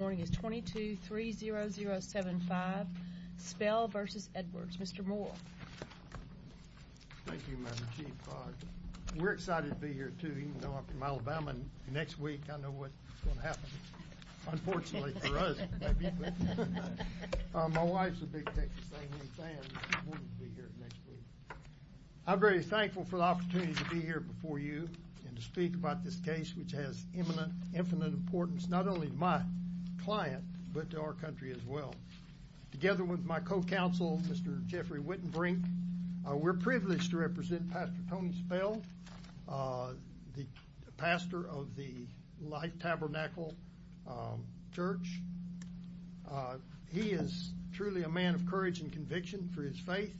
Morning is 22 30075 Spell v. Edwards. Mr. Moore. We're excited to be here to you know, I'm from Alabama. And next week, I know what's going to happen. Unfortunately for us. My wife's a big Texas A&M fan. I'm very thankful for the opportunity to be here before you and to speak about this case, which has imminent infinite importance not only my client, but our country as well. Together with my co counsel, Mr. Jeffrey Wittenbrink. We're privileged to represent Pastor Tony Spell, the pastor of the light tabernacle church. He is truly a man of courage and conviction for his faith.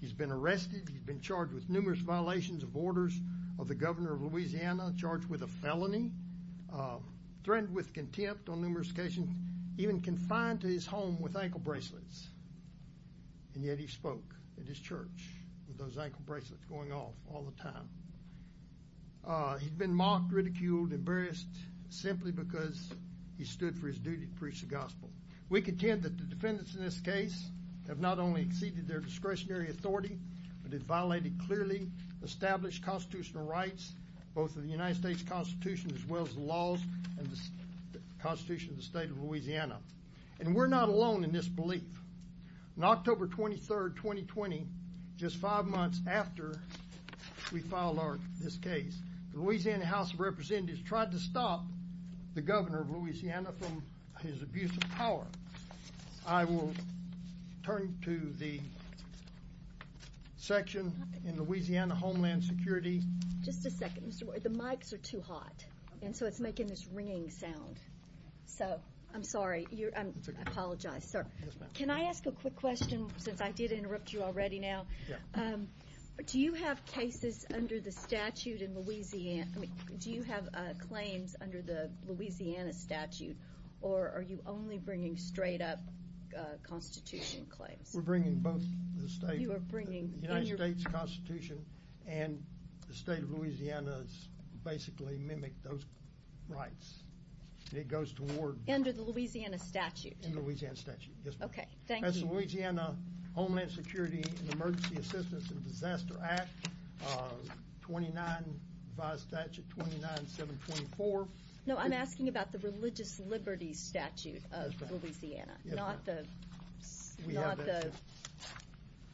He's been arrested. He's been charged with numerous violations of orders of the governor of Louisiana charged with a felony, threatened with contempt on numerous occasions, even confined to his home with ankle bracelets. And yet he spoke at his church with those ankle bracelets going off all the time. He'd been mocked, ridiculed, embarrassed, simply because he stood for his duty to preach the gospel. We contend that the defendants in this case have not only exceeded their discretionary authority, but it violated clearly established constitutional rights, both of the United States Constitution, as well as the laws and the Constitution of the state of Louisiana. And we're not alone in this belief. On October 23, 2020, just five months after we filed our this case, the Louisiana House of Representatives tried to stop the governor of Louisiana from his abuse of power. I will turn to the section in Louisiana Homeland Security. Just a second, Mr. Boyd. The mics are too hot. And so it's making this ringing sound. So I'm sorry. I apologize, sir. Can I ask a quick question, since I did interrupt you already now? Do you have cases under the statute in Louisiana? Do you have claims under the Louisiana statute? Or are you only bringing straight up constitution claims? We're bringing both the United States Constitution, and the state of Louisiana's basically mimic those rights. It goes toward under the Louisiana statute in Louisiana statute. Okay, thank you. Louisiana Homeland Security and Emergency Assistance and Disaster Act. 29 by statute 29 724. No, I'm asking about the Louisiana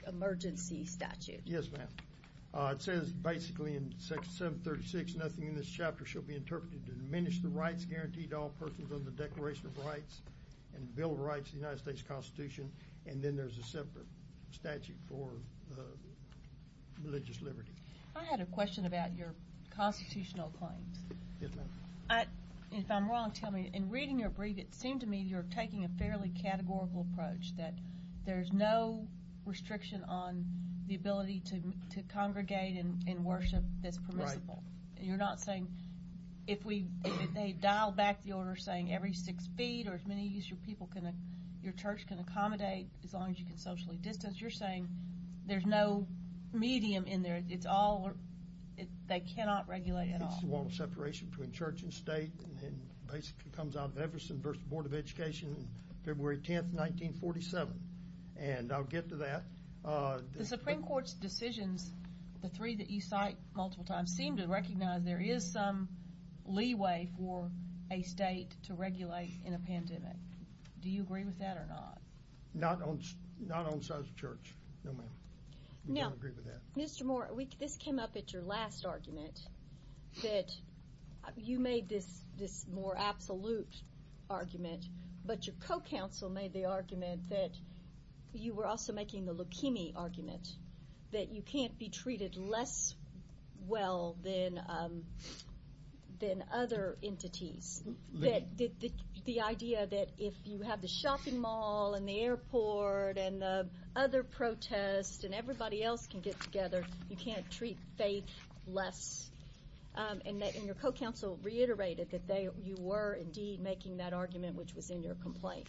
emergency statute. Yes, ma'am. It says basically, in section 736, nothing in this chapter shall be interpreted to diminish the rights guaranteed all persons on the Declaration of Rights and Bill of Rights, the United States Constitution, and then there's a separate statute for religious liberty. I had a question about your constitutional claims. If I'm wrong, tell me in reading your brief, it seemed to me you're taking a fairly categorical approach that there's no restriction on the ability to congregate in worship that's permissible. And you're not saying if we dial back the order saying every six feet or as many as your people can, your church can accommodate, as long as you can socially distance, you're saying there's no medium in there. It's all they cannot regulate at all. It's the wall of separation between church and state, and February 10 1947. And I'll get to that. The Supreme Court's decisions, the three that you cite multiple times seem to recognize there is some leeway for a state to regulate in a pandemic. Do you agree with that or not? Not on not on sides of church. No, ma'am. No, Mr. Moore, we just came up at your last argument that you made this this more absolute argument, but your co counsel made the argument that you were also making the leukemia argument, that you can't be treated less well than than other entities, that the idea that if you have the shopping mall and the airport and other protests, and everybody else can get together, you can't treat faith less. And that in your co counsel reiterated that they you were indeed making that argument, which was in your complaint.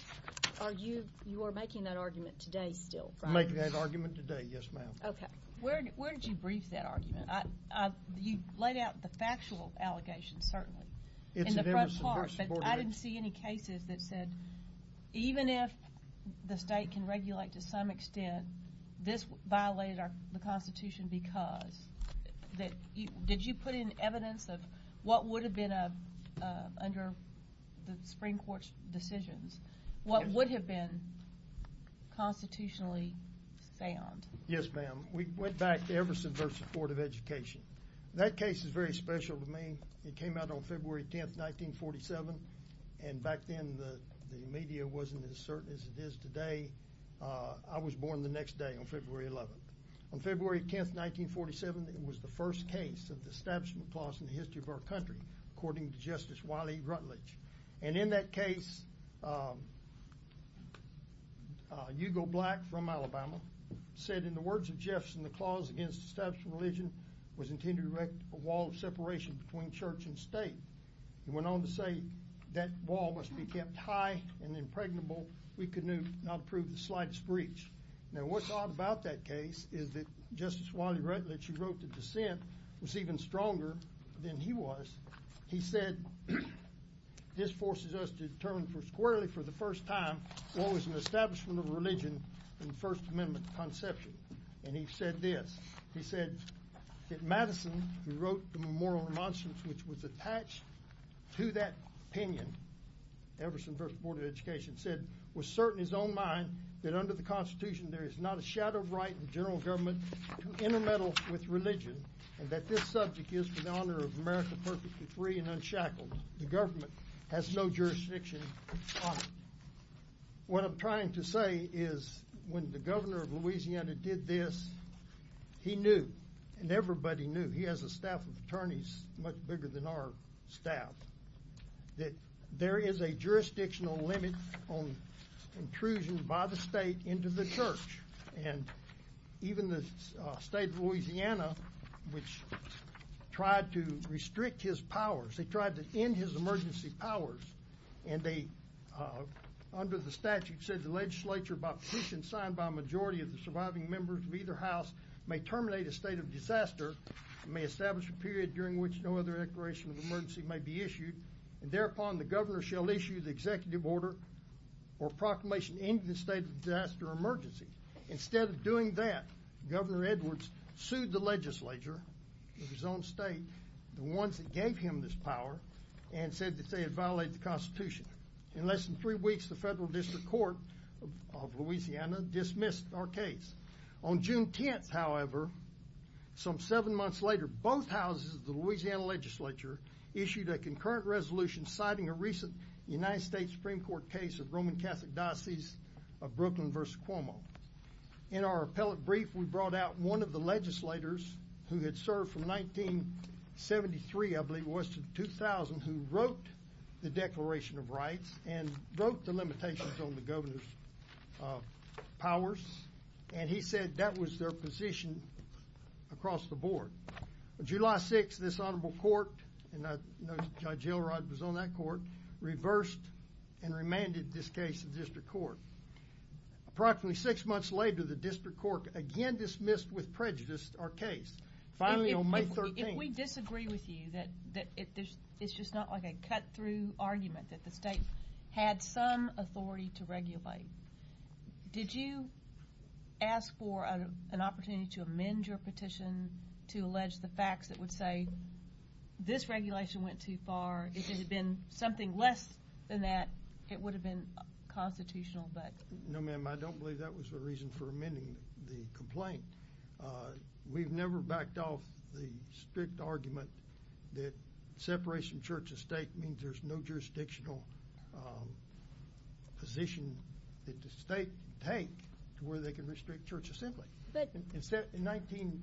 Are you you are making that argument today still making that argument today? Yes, ma'am. Okay, where did you brief that argument? You laid out the factual allegations, certainly, in the first part, but I didn't see any cases that said, even if the state can regulate to some extent, this violated our Constitution, because that you put in evidence of what would have been a under the Supreme Court decisions, what would have been constitutionally sound? Yes, ma'am. We went back to Everson versus Board of Education. That case is very special to me. It came out on February 10 1947. And back then, the media wasn't as certain as it is today. I was born the next day on February 11. On February 10 1947. It was the first case of the establishment clause in the history of our country, according to Justice Wiley Rutledge. And in that case, you go black from Alabama, said in the words of Jefferson, the clause against establishment religion was intended to wreck a wall of separation between church and state. He went on to say that wall must be kept high and impregnable. We could not prove the slightest breach. Now what's odd about that case is Justice Wiley Rutledge, who wrote the dissent, was even stronger than he was. He said, this forces us to determine for squarely for the first time, what was an establishment of religion in the First Amendment conception. And he said this, he said, that Madison, who wrote the Memorial Remonstrance, which was attached to that opinion, Everson versus Board of Education said, was certain his own mind that under the Constitution, there is not a shadow of right in general government to intermeddle with religion, and that this subject is for the honor of America perfectly free and unshackled, the government has no jurisdiction. What I'm trying to say is, when the governor of Louisiana did this, he knew, and everybody knew he has a staff of attorneys much bigger than our staff, that there is a jurisdictional limit on intrusion by the state into the church. And even the state of Louisiana, which tried to restrict his powers, they tried to end his emergency powers. And they, under the statute said, the legislature by petition signed by majority of the surviving members of either house may terminate a state of disaster, may establish a period during which no other declaration of emergency may be issued. And thereupon, the governor shall issue the executive order or proclamation in the state of disaster emergency. Instead of doing that, Governor Edwards sued the legislature, his own state, the ones that gave him this power, and said that they had violated the Constitution. In less than three weeks, the Federal District Court of Louisiana dismissed our case. On June 10, however, some seven months later, both houses of the Louisiana legislature issued a United States Supreme Court case of Roman Catholic Diocese of Brooklyn versus Cuomo. In our appellate brief, we brought out one of the legislators who had served from 1973, I believe it was, to 2000, who wrote the Declaration of Rights and wrote the limitations on the governor's powers. And he said that was their position across the board. On July 6, this remanded this case to the district court. Approximately six months later, the district court again dismissed with prejudice our case. Finally, on May 13... If we disagree with you that it's just not like a cut-through argument, that the state had some authority to regulate, did you ask for an opportunity to amend your petition to allege the facts that would say this regulation went too far, if it hadn't been that, it would have been constitutional? No, ma'am. I don't believe that was the reason for amending the complaint. We've never backed off the strict argument that separation of church and state means there's no jurisdictional position that the state can take to where they can restrict church assembly. In 1929,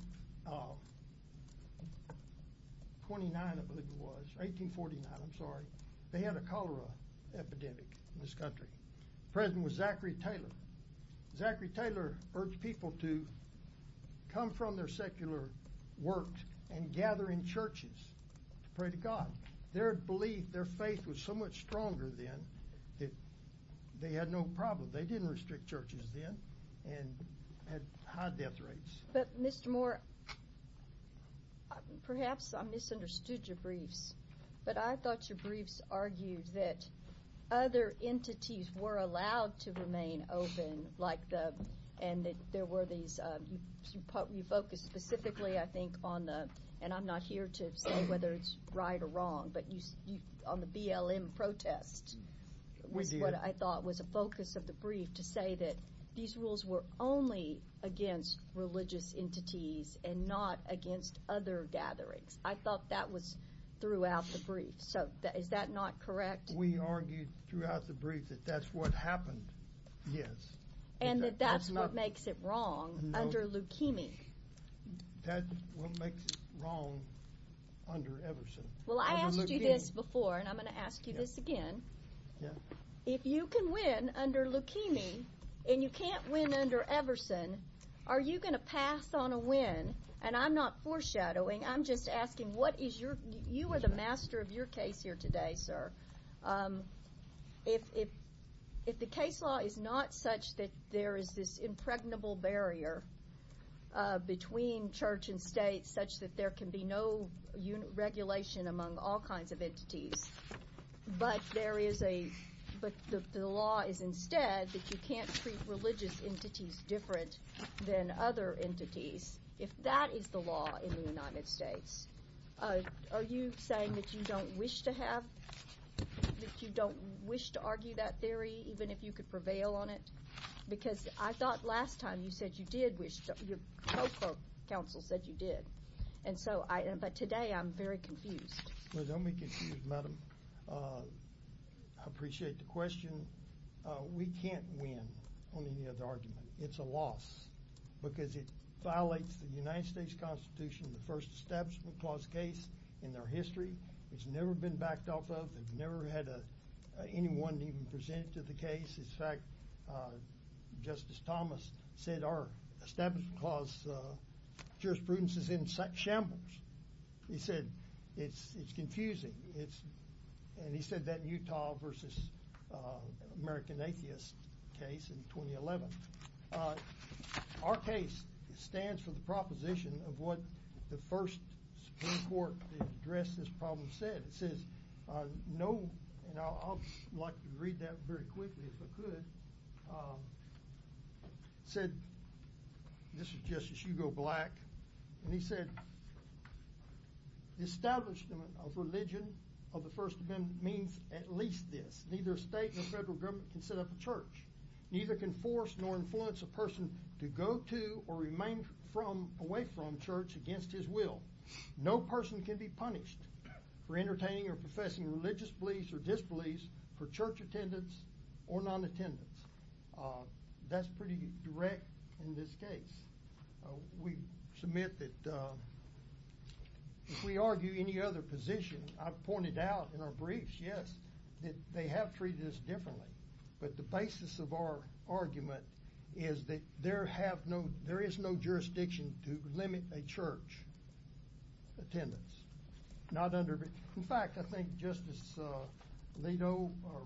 I believe it was, 1849, I'm sorry, they had a cholera epidemic in this country. President was Zachary Taylor. Zachary Taylor urged people to come from their secular work and gather in churches to pray to God. Their belief, their faith was so much stronger then that they had no problem. They didn't restrict churches then and had high death rates. But Mr. Moore, perhaps I misunderstood your briefs, but I thought your briefs argued that other entities were allowed to remain open like the, and there were these, you focused specifically, I think, on the, and I'm not here to say whether it's right or wrong, but on the BLM protest, was what I thought was a focus of the brief to say that these rules were only against religious entities and not against other gatherings. I felt that was throughout the brief. So is that not correct? We argued throughout the brief that that's what happened. Yes. And that that's what makes it wrong under leukemia. That's what makes it wrong under Everson. Well, I asked you this before, and I'm going to ask you this again. If you can win under leukemia, and you can't win under Everson, are you going to pass on a win? And I'm not sure what is your, you are the master of your case here today, sir. If, if, if the case law is not such that there is this impregnable barrier between church and state such that there can be no regulation among all kinds of entities, but there is a, but the law is instead that you can't treat religious entities different than other entities. If that is the law in Are you saying that you don't wish to have, that you don't wish to argue that theory, even if you could prevail on it? Because I thought last time you said you did wish to, your counsel said you did. And so I, but today I'm very confused. Well, don't be confused, madam. I appreciate the question. We can't win on any other argument. It's a loss, because it violates the United States Constitution, the first Establishment Clause case in their history. It's never been backed off of, they've never had anyone even presented to the case. In fact, Justice Thomas said our Establishment Clause jurisprudence is in shambles. He said, it's, it's confusing. It's, and he said that in Utah versus American Atheist case in 2011. Our case stands for the the first Supreme Court to address this problem said, it says, no, and I'll like to read that very quickly, if I could. Said, this is Justice Hugo Black. And he said, the establishment of religion of the First Amendment means at least this, neither state or federal government can set up a church, neither can force nor influence a person to go to or remain from away from church against his will. No person can be punished for entertaining or professing religious beliefs or disbeliefs for church attendance, or non attendance. That's pretty direct. In this case, we submit that if we argue any other position, I've pointed out in our briefs, yes, that they have treated us differently. But the basis of our argument is that there have no, there is no jurisdiction to limit a church attendance, not under. In fact, I think Justice Leto or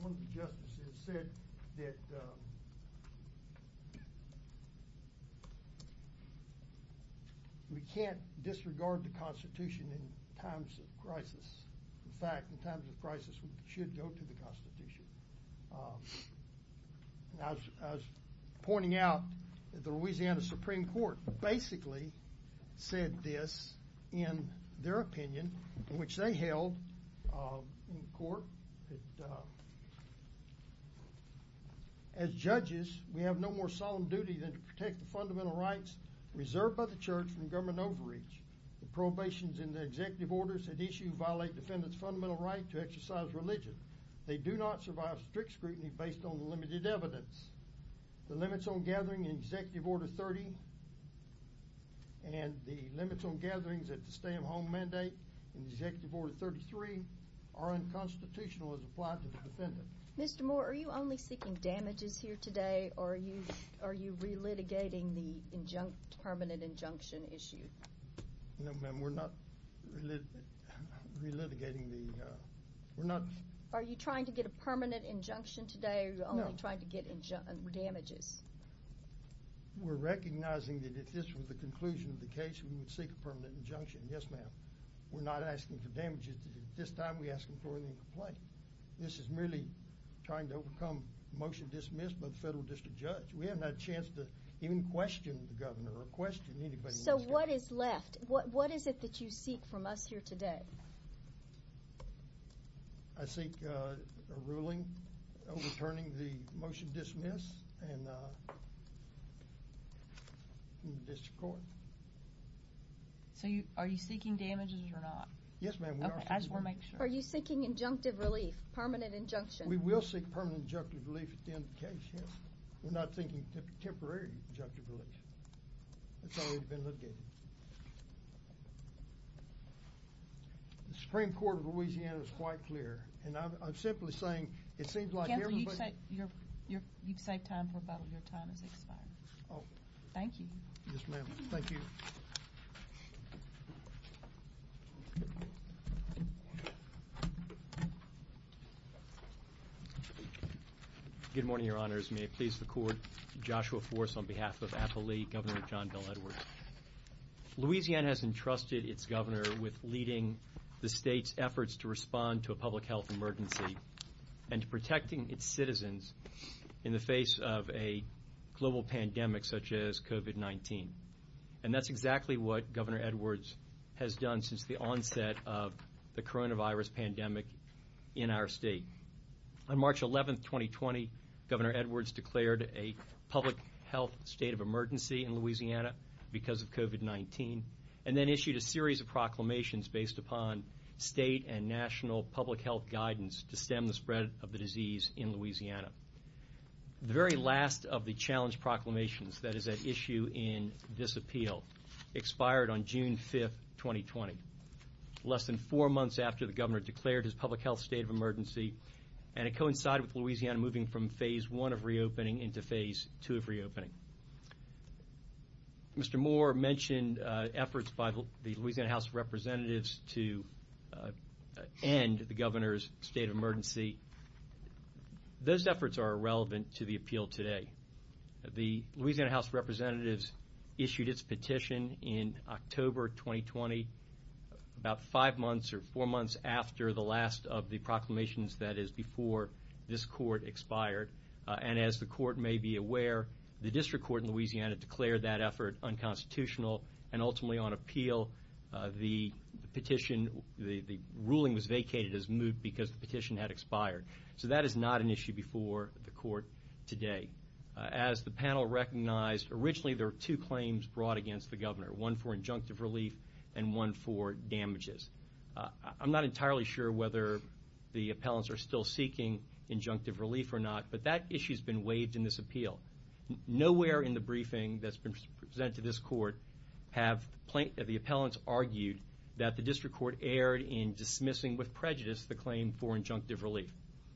one of the justices said that we can't disregard the Constitution in times of crisis. In fact, in times of crisis, we should go to the Constitution. As I was pointing out, the Louisiana Supreme Court basically said this, in their opinion, which they held in court. As judges, we have no more solemn duty than to protect the fundamental rights reserved by the church from government overreach. The probations in the executive orders that issue violate defendants fundamental right to exercise religion. They do not survive strict scrutiny based on limited evidence. The limits on gathering in Executive Order 30. And the limits on gatherings at the stay at home mandate in Executive Order 33 are unconstitutional as applied to the defendant. Mr. Moore, are you only seeking damages here today? Or are you are you relitigating the injunct permanent injunction issue? No, ma'am, we're not relitigating the we're not. Are you trying to get a permanent injunction today? You're only trying to get injunct damages. We're recognizing that if this was the conclusion of the case, we would seek a permanent injunction. Yes, ma'am. We're not asking for damages. At this time, we asked him for any complaint. This is merely trying to overcome motion dismissed by the federal district judge. We have no chance to even question the governor or question anybody. So what is left? What is it that you seek from us here today? I seek a ruling, overturning the motion dismiss and this court. So you are you seeking damages or not? Yes, ma'am. Okay, as we're making sure you're seeking injunctive relief, permanent injunction, we will seek permanent injunctive relief at the end of the case. We're not thinking temporary injunctive relief. It's already been litigated. The Supreme Court of Louisiana is quite clear. And I'm simply saying, it seems like you've saved time for rebuttal. Your time is expired. Oh, thank you. Yes, ma'am. Thank you. Good morning, Your Honors. May it please the court. Joshua Forse on behalf of Apolli, Governor John Bel Edwards. Louisiana has entrusted its governor with leading the state's efforts to respond to a public health emergency and protecting its citizens in the face of a global pandemic such as COVID-19. And that's exactly what Governor Edwards has done since the health state of emergency in Louisiana, because of COVID-19, and then issued a series of proclamations based upon state and national public health guidance to stem the spread of the disease in Louisiana. The very last of the challenge proclamations that is at issue in this appeal, expired on June 5, 2020. Less than four months after the governor declared his public health state of emergency, and it coincided with Louisiana moving from phase one of reopening into phase two of reopening. Mr. Moore mentioned efforts by the Louisiana House of Representatives to end the governor's state of emergency. Those efforts are irrelevant to the appeal today. The Louisiana House of Representatives issued its petition in October 2020, about five months or four months after the last of the proclamations that is before this court expired. And as the district court in Louisiana declared that effort unconstitutional, and ultimately on appeal, the ruling was vacated as moot because the petition had expired. So that is not an issue before the court today. As the panel recognized, originally there were two claims brought against the governor, one for injunctive relief, and one for damages. I'm not entirely sure whether the appellants are still seeking injunctive relief or not, but that issue's been waived in this appeal. Nowhere in the briefing that's been presented to this court have the appellants argued that the district court erred in dismissing with prejudice the claim for injunctive relief.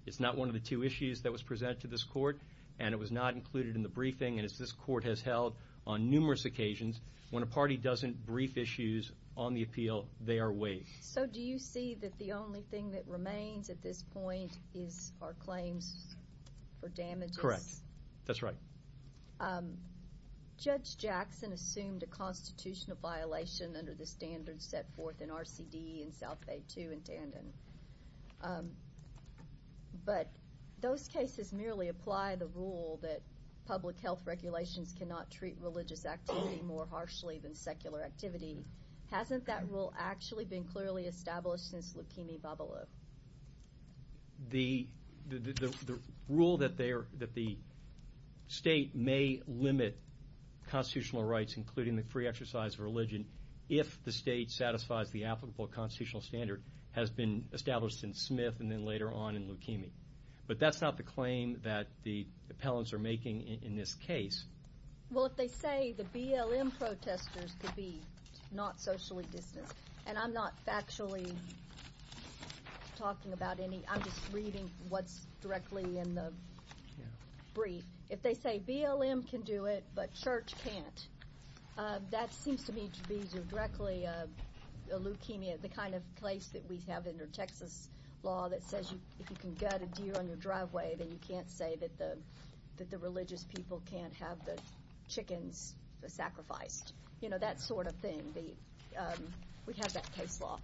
It's not one of the two issues that was presented to this court, and it was not included in the briefing. And as this court has held on numerous occasions, when a party doesn't brief issues on the appeal, they are waived. So do you see that the only thing that remains at this point is our claims for damages? Correct. That's right. Judge Jackson assumed a constitutional violation under the standards set forth in RCD and South Bay 2 in Tandon. But those cases merely apply the rule that public health regulations cannot treat religious activity more harshly than secular activity. Hasn't that rule actually been clearly established since Leukemia Babelou? The rule that the state may limit constitutional rights, including the free exercise of religion, if the state satisfies the applicable constitutional standard, has been established in Smith and then later on in Leukemia. But that's not the claim that the appellants are making in this case. Well, if they say the BLM protesters could be not socially distanced, and I'm not actually talking about any, I'm just reading what's directly in the brief. If they say BLM can do it, but church can't, that seems to me to be directly a leukemia, the kind of place that we have under Texas law that says if you can gut a deer on your driveway, then you can't say that the religious people can't have the chickens sacrificed. You know, that sort of thing. We have that case law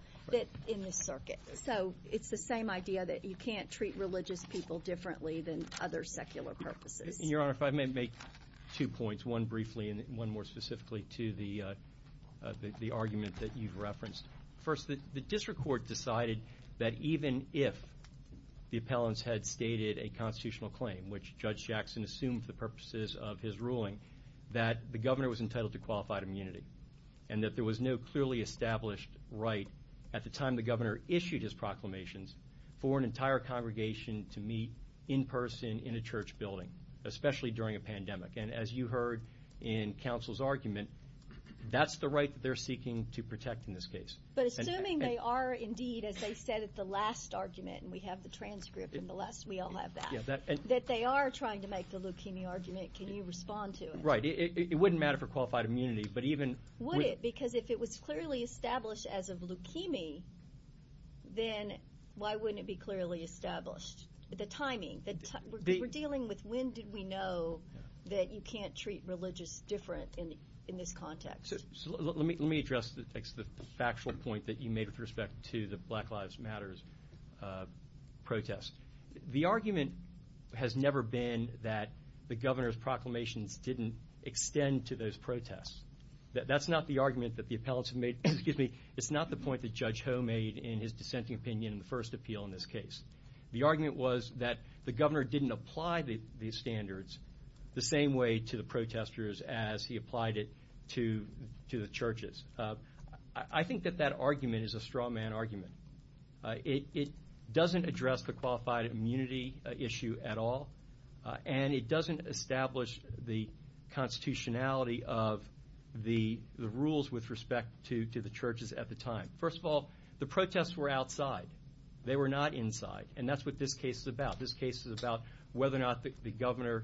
in this circuit. So it's the same idea that you can't treat religious people differently than other secular purposes. And Your Honor, if I may make two points, one briefly and one more specifically to the argument that you've referenced. First, the district court decided that even if the appellants had stated a constitutional claim, which Judge Jackson assumed for the purposes of his ruling, that the governor was entitled to qualified immunity, and that there was no clearly established right at the time the governor issued his proclamations for an entire congregation to meet in person in a church building, especially during a pandemic. And as you heard in counsel's argument, that's the right that they're seeking to protect in this case. But assuming they are indeed, as they said at the last argument, and we have the transcript in the last, we all have that, that they are trying to make the leukemia argument, can you respond to it? Right. It wouldn't matter for qualified immunity, but even... Would it? Because if it was clearly established as a leukemia, then why wouldn't it be clearly established? The timing, the... We're dealing with when did we know that you can't treat religious different in this context. So let me address the factual point that you made with respect to the Black Lives Matters protest. The argument has never been that the governor's proclamations didn't extend to those protests. That's not the argument that the appellants have made. Excuse me. It's not the point that Judge Ho made in his dissenting opinion in the first appeal in this case. The argument was that the governor didn't apply these standards the same way to the protesters as he applied it to the churches. I think that that argument is a straw man argument. It doesn't address the qualified immunity issue at all, and it doesn't establish the constitutionality of the rules with respect to the churches at the time. First of all, the protests were outside. They were not inside, and that's what this case is about. This case is about whether or not the governor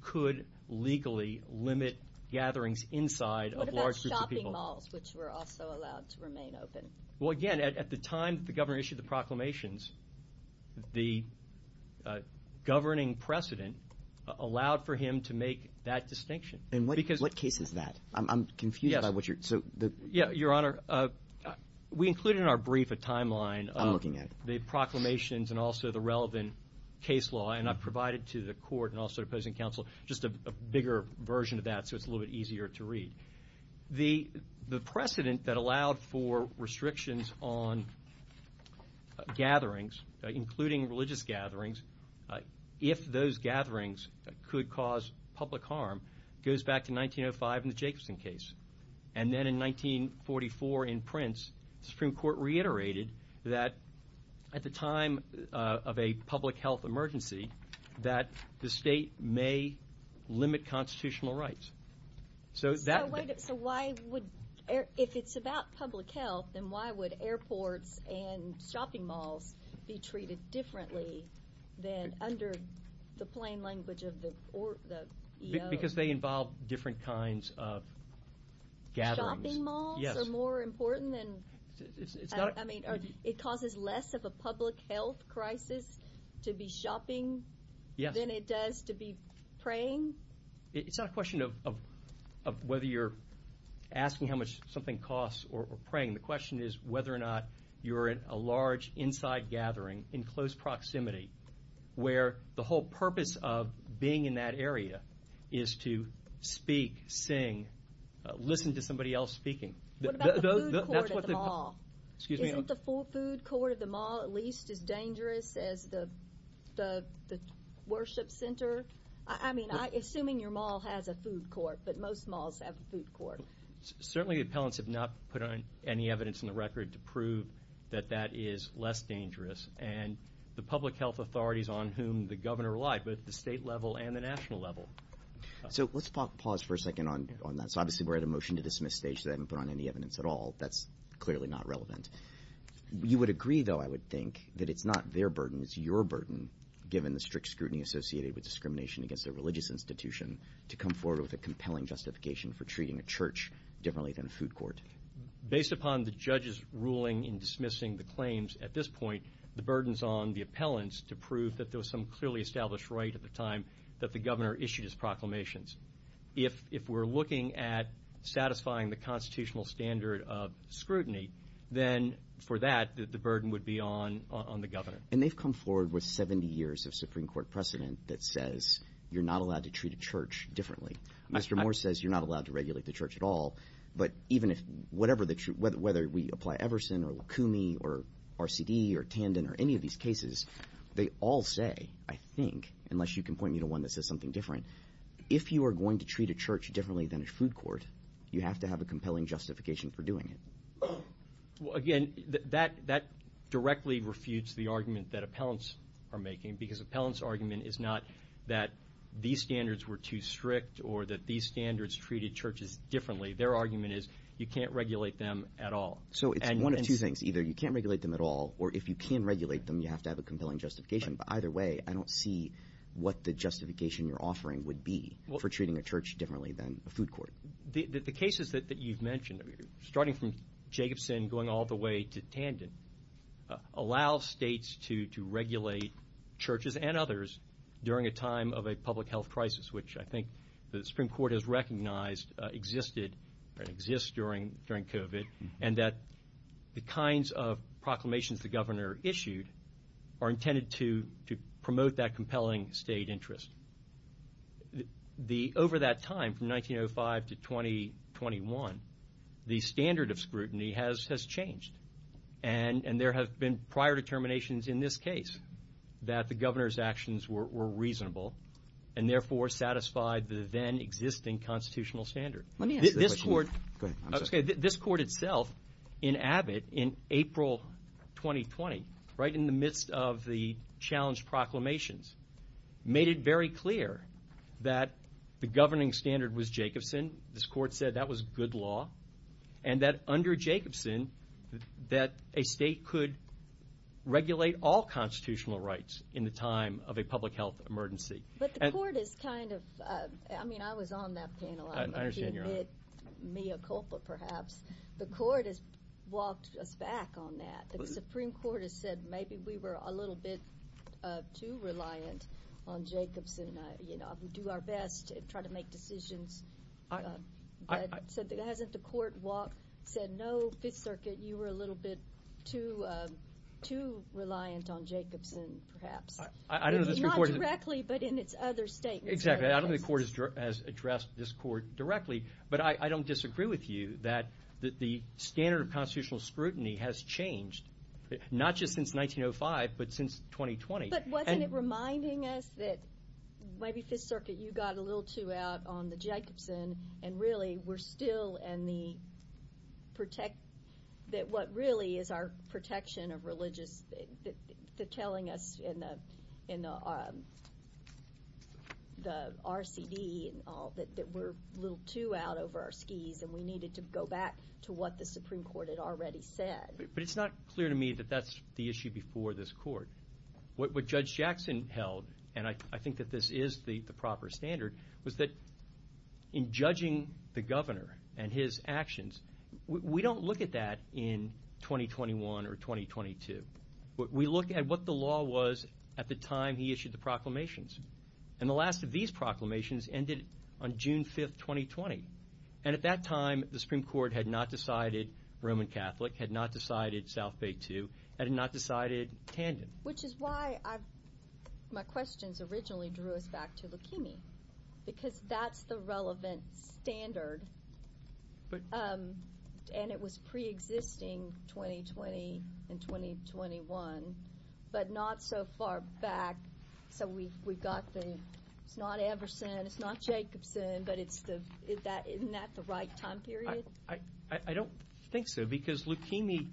could legally limit gatherings inside of large groups of people. What about shopping malls, which were also allowed to remain open? Well, again, at the time that the governor issued the proclamations, the governing precedent allowed for him to make that distinction. And what case is that? I'm confused by what you're... Yes. So the... Yeah, Your Honor, we included in our brief a timeline of the proclamations and also the relevant case law, and I've provided to the court and also to opposing counsel just a bigger version of that, so it's a little bit easier to read. The precedent that allowed for restrictions on gatherings, including religious gatherings, if those gatherings could cause public harm, goes back to 1905 in the Jacobson case. And then in 1944 in Prince, the Supreme Court reiterated that at the time of a public health emergency, that the state may limit constitutional rights. So that... So why would... If it's about public health, then why would airports and shopping malls be treated differently than under the plain language of the EO? Because they involve different kinds of gatherings. Shopping malls are more important than... It's not... I mean, are... It causes less of a public health crisis to be shopping... Yes. Than it does to be praying? It's not a question of whether you're asking how much something costs or praying. The question is whether or not you're in a large inside gathering in close proximity, where the whole purpose of being in that area is to speak, sing, listen to somebody else speaking. What about the food court at the mall? Excuse me? Isn't the food court at the mall at least as dangerous as the worship center? I mean, assuming your mall has a food court. Certainly, the appellants have not put on any evidence in the record to prove that that is less dangerous. And the public health authorities on whom the governor relied, both at the state level and the national level. So let's pause for a second on that. So obviously, we're at a motion to dismiss stage, so they haven't put on any evidence at all. That's clearly not relevant. You would agree, though, I would think that it's not their burden, it's your burden, given the strict scrutiny associated with discrimination against a religious institution, to come forward with a motion for treating a church differently than a food court. Based upon the judge's ruling in dismissing the claims at this point, the burden's on the appellants to prove that there was some clearly established right at the time that the governor issued his proclamations. If we're looking at satisfying the constitutional standard of scrutiny, then for that, the burden would be on the governor. And they've come forward with 70 years of scrutiny, they've come forward with a motion to treat a church differently. Mr. Moore says you're not allowed to regulate the church at all. But even if whatever the truth, whether we apply Everson or Lakoumi or RCD or Tandon or any of these cases, they all say, I think, unless you can point me to one that says something different, if you are going to treat a church differently than a food court, you have to have a compelling justification for doing it. Well, again, that directly refutes the argument that appellants are making, because appellants' argument is not that these standards were too strict or that these standards treated churches differently. Their argument is you can't regulate them at all. So it's one of two things, either you can't regulate them at all, or if you can regulate them, you have to have a compelling justification. But either way, I don't see what the justification you're offering would be for treating a church differently than a food court. The cases that you've mentioned, starting from Jacobson going all the way to Tandon, allow states to regulate churches and others during a time of a public health crisis, which I think the Supreme Court has recognized existed or exists during COVID, and that the kinds of proclamations the governor issued are intended to promote that compelling state interest. Over that time, from 1905 to 2021, the standard of scrutiny has changed. And there have been prior determinations in this case that the governor's actions were reasonable, and therefore satisfied the then existing constitutional standard. Let me ask you a question. Go ahead, I'm sorry. This court itself, in Abbott, in April 2020, right in the midst of the challenged proclamations, made it very clear that the governing standard was a state could regulate all constitutional rights in the time of a public health emergency. But the court is kind of, I mean, I was on that panel. I understand you're on it. Mia Culpa, perhaps. The court has walked us back on that. The Supreme Court has said, maybe we were a little bit too reliant on Jacobson. You know, we do our best to try to make decisions. But hasn't the court said, no, Fifth Circuit, you were a little bit too reliant on Jacobson, perhaps. I don't know if the Supreme Court has... Not directly, but in its other statements. Exactly. I don't know if the court has addressed this court directly, but I don't disagree with you that the standard of constitutional scrutiny has changed, not just since 1905, but since 2020. But wasn't it reminding us that maybe Fifth Circuit, you got a little too out on the Jacobson and really we're still in the protect... that what really is our protection of religious... they're telling us in the RCD and all that we're a little too out over our skis and we needed to go back to what the Supreme Court had already said. But it's not clear to me that that's the issue before this court. What Judge Jackson held, and I think that this is the proper standard, was that in judging the governor and his actions, we don't look at that in 2021 or 2022. We look at what the law was at the time he issued the proclamations. And the last of these proclamations ended on June 5th, 2020. And at that time, the Supreme Court had not decided Roman Catholic, had not decided South Bay II, had not decided tandem. Which is why my questions originally drew us back to leukemia, because that's the relevant standard. And it was pre-existing 2020 and 2021, but not so far back. So we got the, it's not Everson, it's not Jacobson, but isn't that the right time period? I don't think so, because leukemia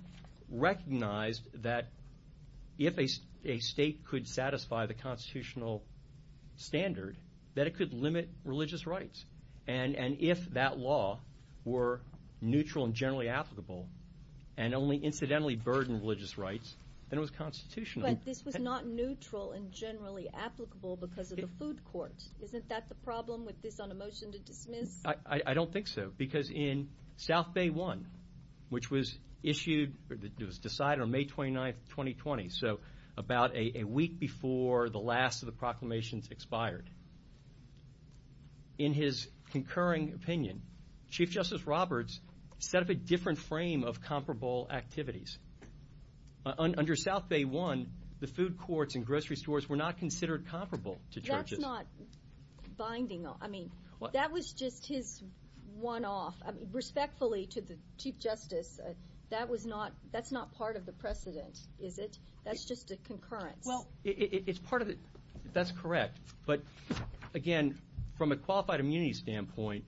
recognized that if a state could satisfy the constitutional standard, that it could limit religious rights. And if that law were neutral and generally applicable, and only incidentally burdened religious rights, then it was constitutional. But this was not neutral and generally applicable because of the food court. Isn't that the problem with this on a motion to dismiss? I don't think so, because in South Bay I, which was issued, it was decided on May 29th, 2020, so about a week before the last of the proclamations expired. In his concurring opinion, Chief Justice Roberts set up a different frame of comparable activities. Under South Bay I, the food courts and grocery stores were not considered comparable to churches. But that's not binding, I mean, that was just his one-off. Respectfully to the Chief Justice, that was not, that's not part of the precedent, is it? That's just a concurrence. Well, it's part of it, that's correct. But again, from a qualified immunity standpoint,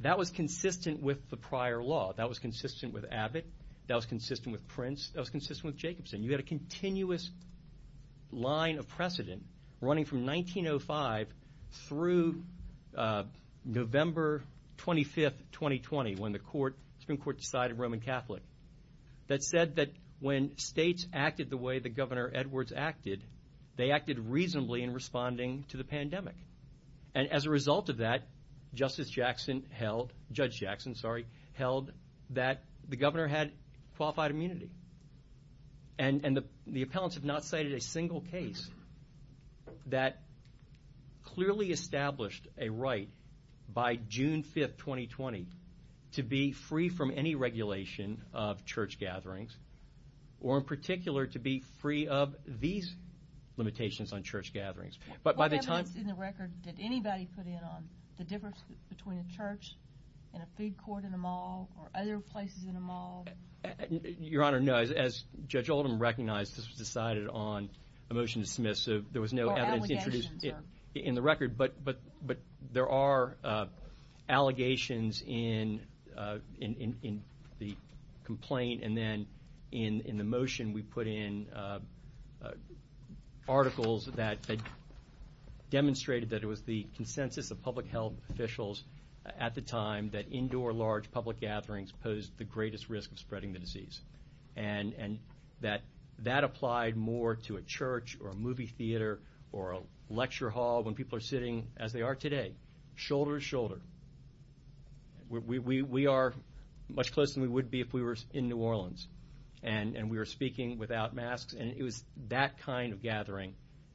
that was consistent with the prior law. That was consistent with Abbott, that was consistent with Prince, that was consistent with Jacobson. You had a continuous line of precedent running from 1905 through November 25th, 2020, when the Supreme Court decided Roman Catholic. That said that when states acted the way that Governor Edwards acted, they acted reasonably in responding to the pandemic. And as a result of that, Justice Jackson held, Judge Jackson, sorry, held that the governor had qualified immunity. And the appellants have not cited a single case that clearly established a right by June 5th, 2020, to be free from any regulation of church gatherings, or in particular to be free of these limitations on church gatherings. What evidence in the record did anybody put in on the difference between a church and a food court and a mall or other places in a mall? Your Honor, no. As Judge Oldham recognized, this was decided on a motion to dismiss. So there was no evidence introduced in the record. But there are allegations in the complaint. And then in the motion we put in articles that demonstrated that it was the consensus of public health officials at the time that indoor large public gatherings posed the greatest risk of spreading the disease. And that that applied more to a church or a movie theater or a lecture hall when people are sitting as they are today, shoulder to shoulder. We are much closer than we would be if we were in New Orleans. And we were speaking without masks. And it was that kind of gathering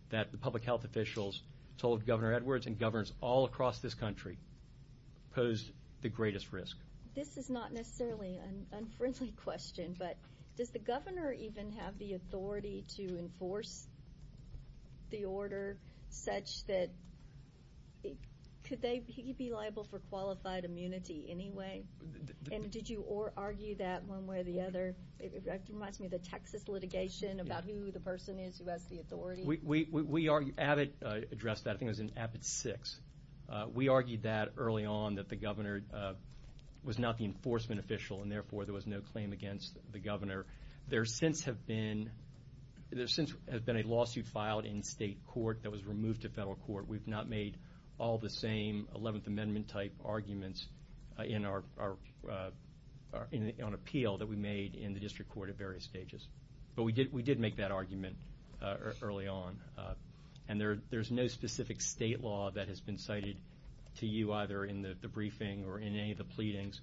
that the public health officials told Governor Edwards and governors all across this country posed the greatest risk. This is not necessarily an unfriendly question, but does the governor even have the authority to enforce the order such that he could be liable for qualified immunity anyway? And did you argue that one way or the other? It reminds me of the Texas litigation about who the person is who has the authority. We addressed that, I think it was in AVID 6. We argued that early on that the governor was not the enforcement official and therefore there was no claim against the governor. There since have been a lawsuit filed in state court that was removed to federal court. We've not made all the same 11th Amendment type arguments on appeal that we made in the district court at various stages. But we did make that argument early on. And there's no specific state law that has been cited to you either in the briefing or in any of the pleadings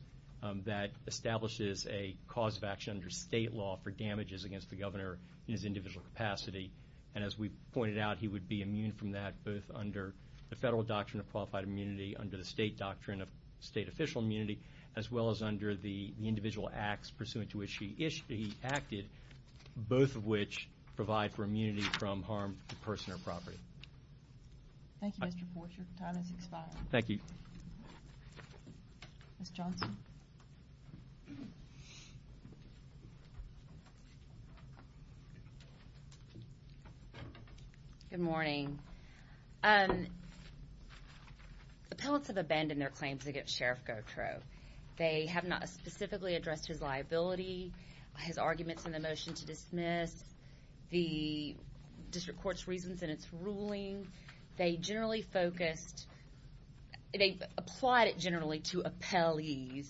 that establishes a cause of action under state law for damages against the governor in his individual capacity. And as we pointed out, he would be immune from that both under the federal doctrine of qualified immunity, under the state doctrine of state official immunity, as well as under the individual acts pursuant to which he acted, both of which provide for immunity from harm to person or property. Thank you, Mr. Forsher. Your time has expired. Thank you. Ms. Johnson. Good morning. Appellants have abandoned their claims against Sheriff Gautreaux. They have not specifically addressed his liability, his arguments in the motion to dismiss, the district court's reasons in its ruling. They generally focused, they applied it generally to appellees,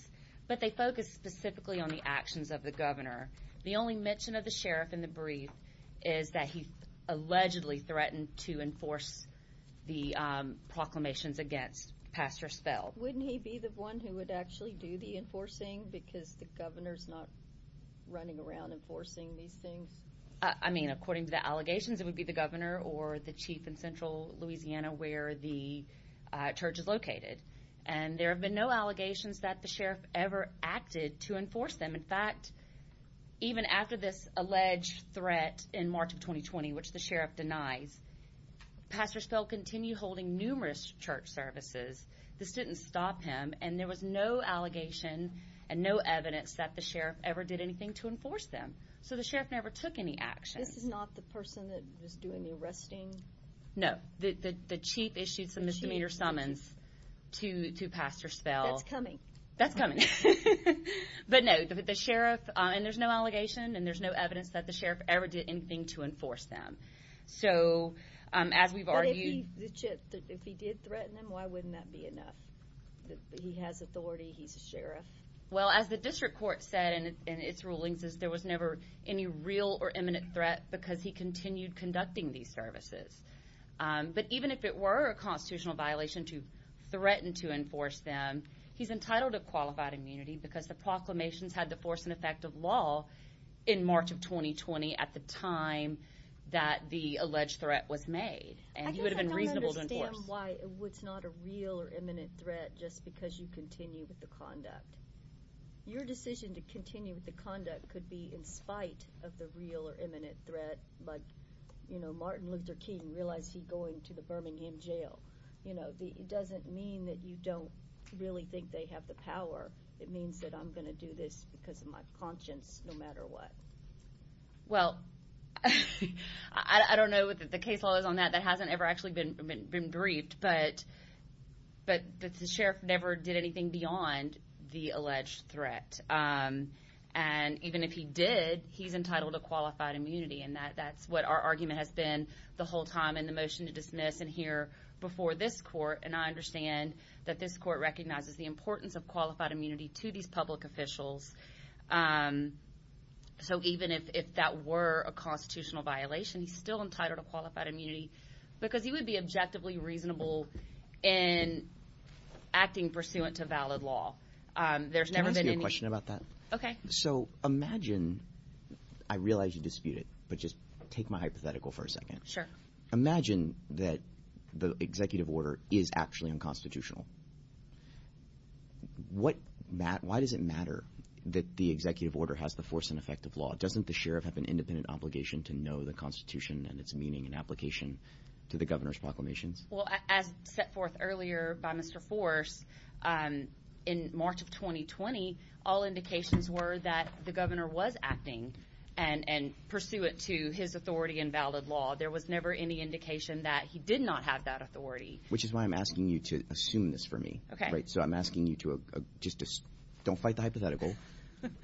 but they focused specifically on the actions of the governor. The only mention of the sheriff in the brief is that he allegedly threatened to enforce the proclamations against Pastor Spell. Wouldn't he be the one who would actually do the enforcing because the governor's not running around enforcing these things? I mean, according to the allegations, it would be the governor or the chief in central Louisiana where the church is located. And there have been no allegations that the sheriff ever acted to enforce them. In fact, even after this alleged threat in March of 2020, which the sheriff denies, Pastor Spell continued holding numerous church services. This didn't stop him, and there was no allegation and no evidence that the sheriff ever did anything to enforce them. So the sheriff never took any action. This is not the person that was doing the arresting? No. The chief issued some misdemeanor summons to Pastor Spell. That's coming. That's coming. But no, the sheriff, and there's no allegation, and there's no evidence that the sheriff ever did anything to enforce them. So, as we've argued... But if he did threaten them, why wouldn't that be enough? He has authority. He's a sheriff. Well, as the district court said in its rulings, is there was never any real or imminent threat because he continued conducting these services. But even if it were a constitutional violation to threaten to enforce them, he's entitled to qualified immunity because the proclamations had the force and effect of law in March of 2020 at the time that the alleged threat was made. And he would have been reasonable to enforce. I guess I don't understand why it's not a real or imminent threat just because you continue with the conduct. Your decision to continue with the conduct could be in spite of the real or imminent threat, like, you know, Martin Luther King realized he's going to the Birmingham jail, you know. It doesn't mean that you don't really think they have the power. It means that I'm going to do this because of my conscience, no matter what. Well, I don't know what the case law is on that. That hasn't ever actually been briefed. But the sheriff never did anything beyond the alleged threat. And even if he did, he's entitled to qualified immunity. And that's what our argument has been the whole time in the motion to dismiss and hear before this court, and I understand that this court recognizes the importance of qualified immunity to these public officials. So even if that were a constitutional violation, he's still entitled to qualified immunity because he would be objectively reasonable in acting pursuant to valid law. There's never been any. Can I ask you a question about that? Okay. So imagine, I realize you dispute it, but just take my hypothetical for a second. Sure. Imagine that the executive order is actually unconstitutional. Why does it matter that the executive order has the force and effect of law? Doesn't the sheriff have an independent obligation to know the Constitution and its meaning and application to the governor's proclamations? Well, as set forth earlier by Mr. Force, in March of 2020, all indications were that the governor was acting and pursuant to his authority in valid law. There was never any indication that he did not have that authority. Which is why I'm asking you to assume this for me. Okay. Right? So I'm asking you to just don't fight the hypothetical.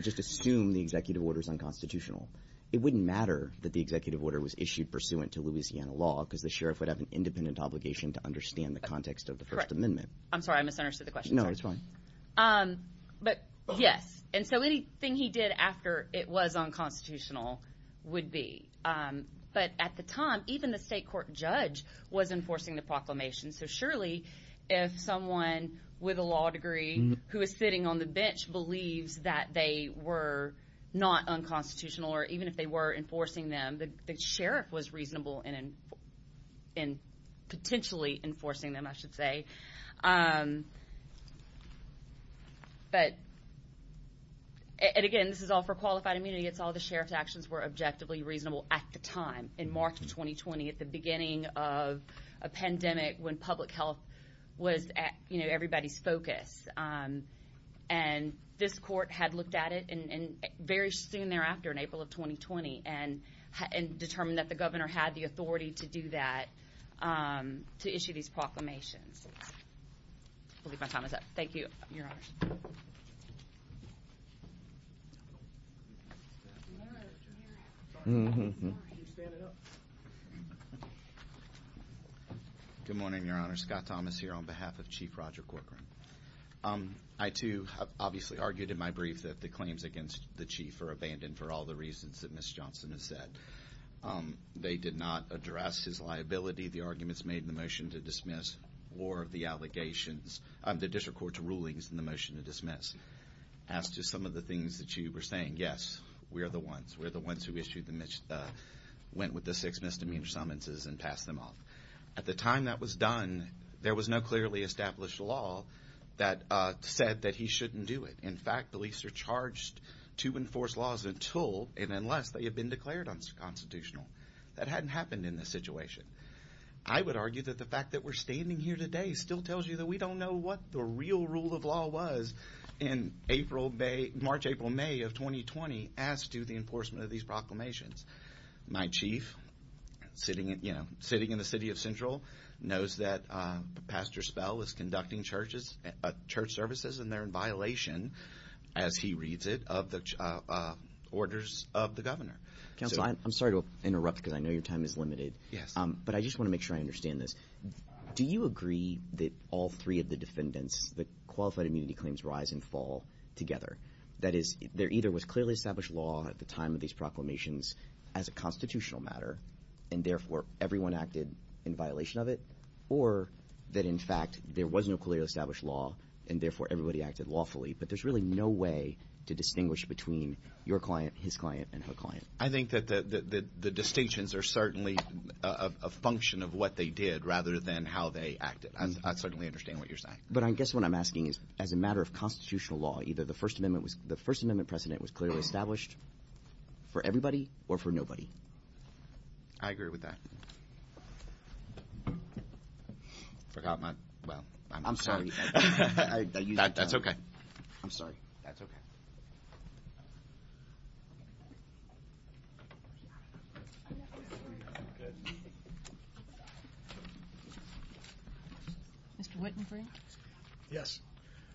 Just assume the executive order is unconstitutional. It wouldn't matter that the executive order was issued pursuant to Louisiana law because the sheriff would have an independent obligation to understand the context of the First Amendment. I'm sorry. I misunderstood the question. No, it's fine. But yes, and so anything he did after it was unconstitutional would be. But at the time, even the state court judge was enforcing the proclamation. So surely, if someone with a law degree who is sitting on the bench believes that they were not unconstitutional, or even if they were enforcing them, the sheriff was reasonable in potentially enforcing them, I should say. But, and again, this is all for qualified immunity. It's all the sheriff's actions were objectively reasonable at the time in March of 2020 at the beginning of a pandemic when public health was, you know, everybody's focus. And this court had looked at it and very soon thereafter in April of 2020 and determined that the governor had the authority to do that, to issue these proclamations. I believe my time is up. Thank you, your honor. Good morning, your honor. Scott Thomas here on behalf of Chief Roger Corcoran. I, too, have obviously argued in my brief that the claims against the chief are abandoned for all the reasons that Ms. Johnson has said. They did not address his liability, the arguments made in the motion to dismiss, or the allegations, the district court's rulings in the motion to dismiss. As to some of the things that you were saying, yes, we are the ones. We're the ones who issued the, went with the six misdemeanor summonses and passed them off. At the time that was done, there was no clearly established law that said that he shouldn't do it. In fact, police are charged to enforce laws until and unless they have been declared unconstitutional. That hadn't happened in this situation. I would argue that the fact that we're standing here today still tells you that we don't know what the real rule of law was in March, April, May of 2020 as to the enforcement of these proclamations. My chief, sitting in the city of Central, knows that Pastor Spell is conducting church services and they're in violation, as he reads it, of the orders of the governor. Counsel, I'm sorry to interrupt because I know your time is limited. Yes. But I just want to make sure I understand this. Do you agree that all three of the defendants, the qualified immunity claims, rise and fall together? That is, there either was clearly established law at the time of these proclamations as a constitutional matter and therefore everyone acted in violation of it, or that in fact there was no clearly established law and therefore everybody acted lawfully. But there's really no way to distinguish between your client, his client, and her client. I think that the distinctions are certainly a function of what they did rather than how they acted. I certainly understand what you're saying. But I guess what I'm asking is, as a matter of constitutional law, either the First Amendment precedent was clearly established for everybody or for nobody? I agree with that. Forgot my, well, I'm sorry. I'm sorry. That's okay. I'm sorry. That's okay. Mr. Wittenberg? Yes.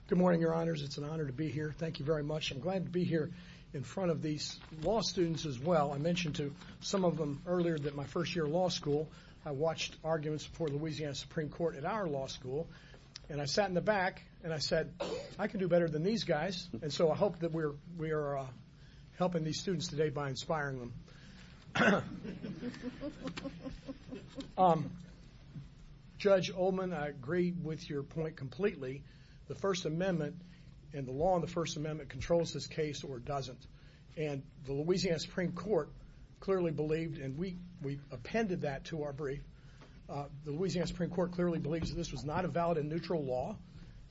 Good morning, Your Honors. It's an honor to be here. Thank you very much. I'm glad to be here in front of these law students as well. I mentioned to some of them earlier that my first year of law school, I watched arguments before Louisiana Supreme Court at our law school. And I sat in the back and I said, I can do better than these guys. And so I hope that we are helping these students today by inspiring them. Judge Ullman, I agree with your point completely. The First Amendment and the law in the First Amendment controls this case or doesn't. And the Louisiana Supreme Court clearly believed, and we appended that to our brief. The Louisiana Supreme Court clearly believes that this was not a valid and neutral law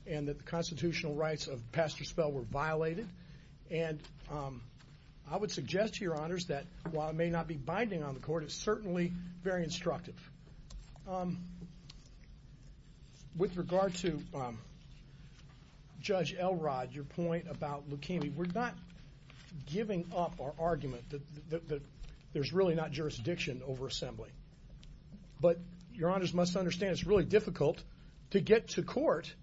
and that the constitutional rights of Pastor Spell were violated. And I would suggest to your honors that while it may not be binding on the court, it's certainly very instructive. With regard to Judge Elrod, your point about leukemia, we're not giving up our argument that there's really not jurisdiction over assembly. But your honors must understand it's really difficult to get to court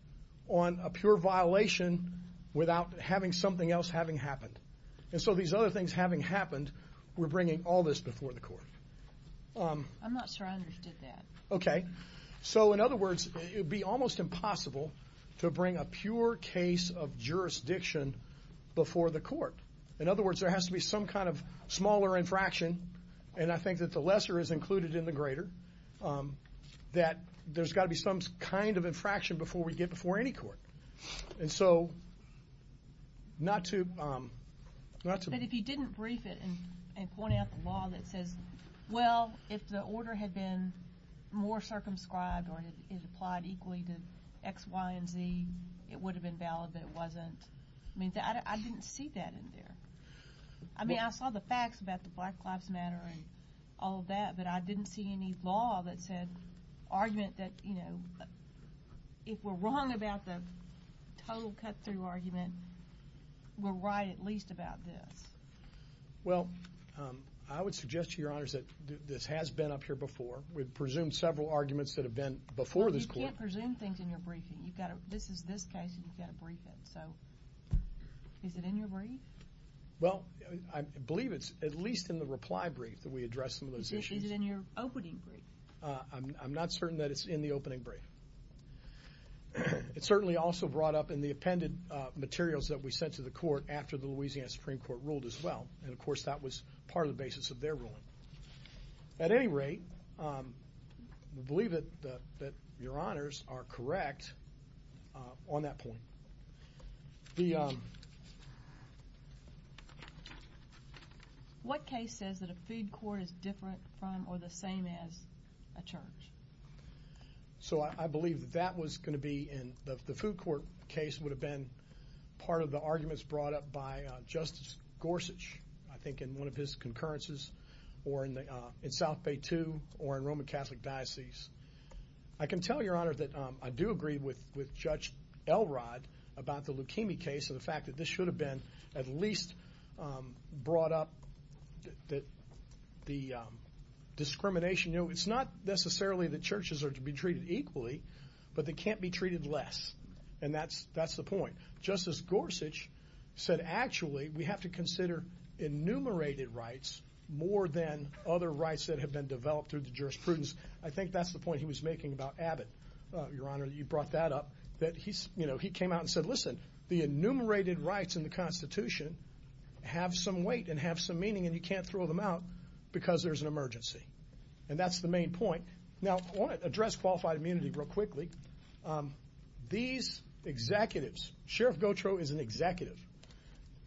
on a pure violation without having something else having happened. And so these other things having happened, we're bringing all this before the court. I'm not sure I understood that. Okay. So in other words, it would be almost impossible to bring a pure case of jurisdiction before the court. In other words, there has to be some kind of smaller infraction. And I think that the lesser is included in the greater. That there's got to be some kind of infraction before we get before any court. And so not to... But if you didn't brief it and point out the law that says, well, if the order had been more circumscribed or it applied equally to X, Y, and Z, it would have been valid, but it wasn't. I mean, I didn't see that in there. I mean, I saw the facts about the Black Lives Matter and all of that, but I didn't see any law that said, argument that, you know, if we're wrong about the total cut-through argument, we're right at least about this. Well, I would suggest to your honors that this has been up here before. We've presumed several arguments that have been before this court. But you can't presume things in your briefing. You've got to, this is this case and you've got to brief it. So is it in your brief? Well, I believe it's at least in the reply brief that we address some of those issues. Is it in your opening brief? I'm not certain that it's in the opening brief. It's certainly also brought up in the appended materials that we sent to the court after the Louisiana Supreme Court ruled as well. And of course, that was part of the basis of their ruling. At any rate, we believe that your honors are correct on that point. The, what case says that a food court is different from or the same as a church? So I believe that that was going to be in, the food court case would have been part of the arguments brought up by Justice Gorsuch. I think in one of his concurrences or in South Bay 2 or in Roman Catholic Diocese. I can tell your honor that I do agree with Judge Elrod about the leukemia case. And the fact that this should have been at least brought up that the discrimination, you know, it's not necessarily that churches are to be treated equally, but they can't be treated less. And that's the point. Justice Gorsuch said actually we have to consider enumerated rights more than other rights that have been developed through the jurisprudence. I think that's the point he was making about Abbott. Your honor, you brought that up. That he's, you know, he came out and said, listen, the enumerated rights in the Constitution have some weight and have some meaning and you can't throw them out because there's an emergency. And that's the main point. Now, I want to address qualified immunity real quickly. These executives, Sheriff Gautreau is an executive,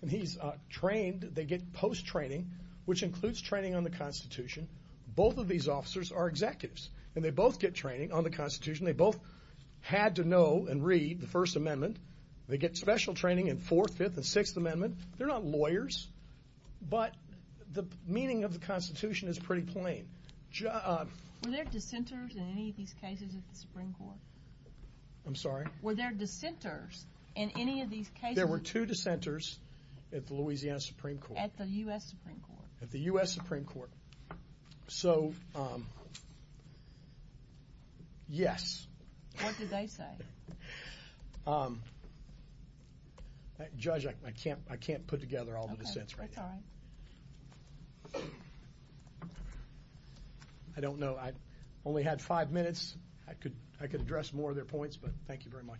and he's trained, they get post-training, which includes training on the Constitution. Both of these officers are executives, and they both get training on the Constitution. They both had to know and read the First Amendment. They get special training in Fourth, Fifth, and Sixth Amendment. They're not lawyers, but the meaning of the Constitution is pretty plain. Were there dissenters in any of these cases at the Supreme Court? I'm sorry? Were there dissenters in any of these cases? There were two dissenters at the Louisiana Supreme Court. At the U.S. Supreme Court. At the U.S. Supreme Court. So, yes. What did they say? Judge, I can't put together all the dissents right now. Okay, that's all right. I don't know, I only had five minutes. I could address more of their points, but thank you very much. Thank you.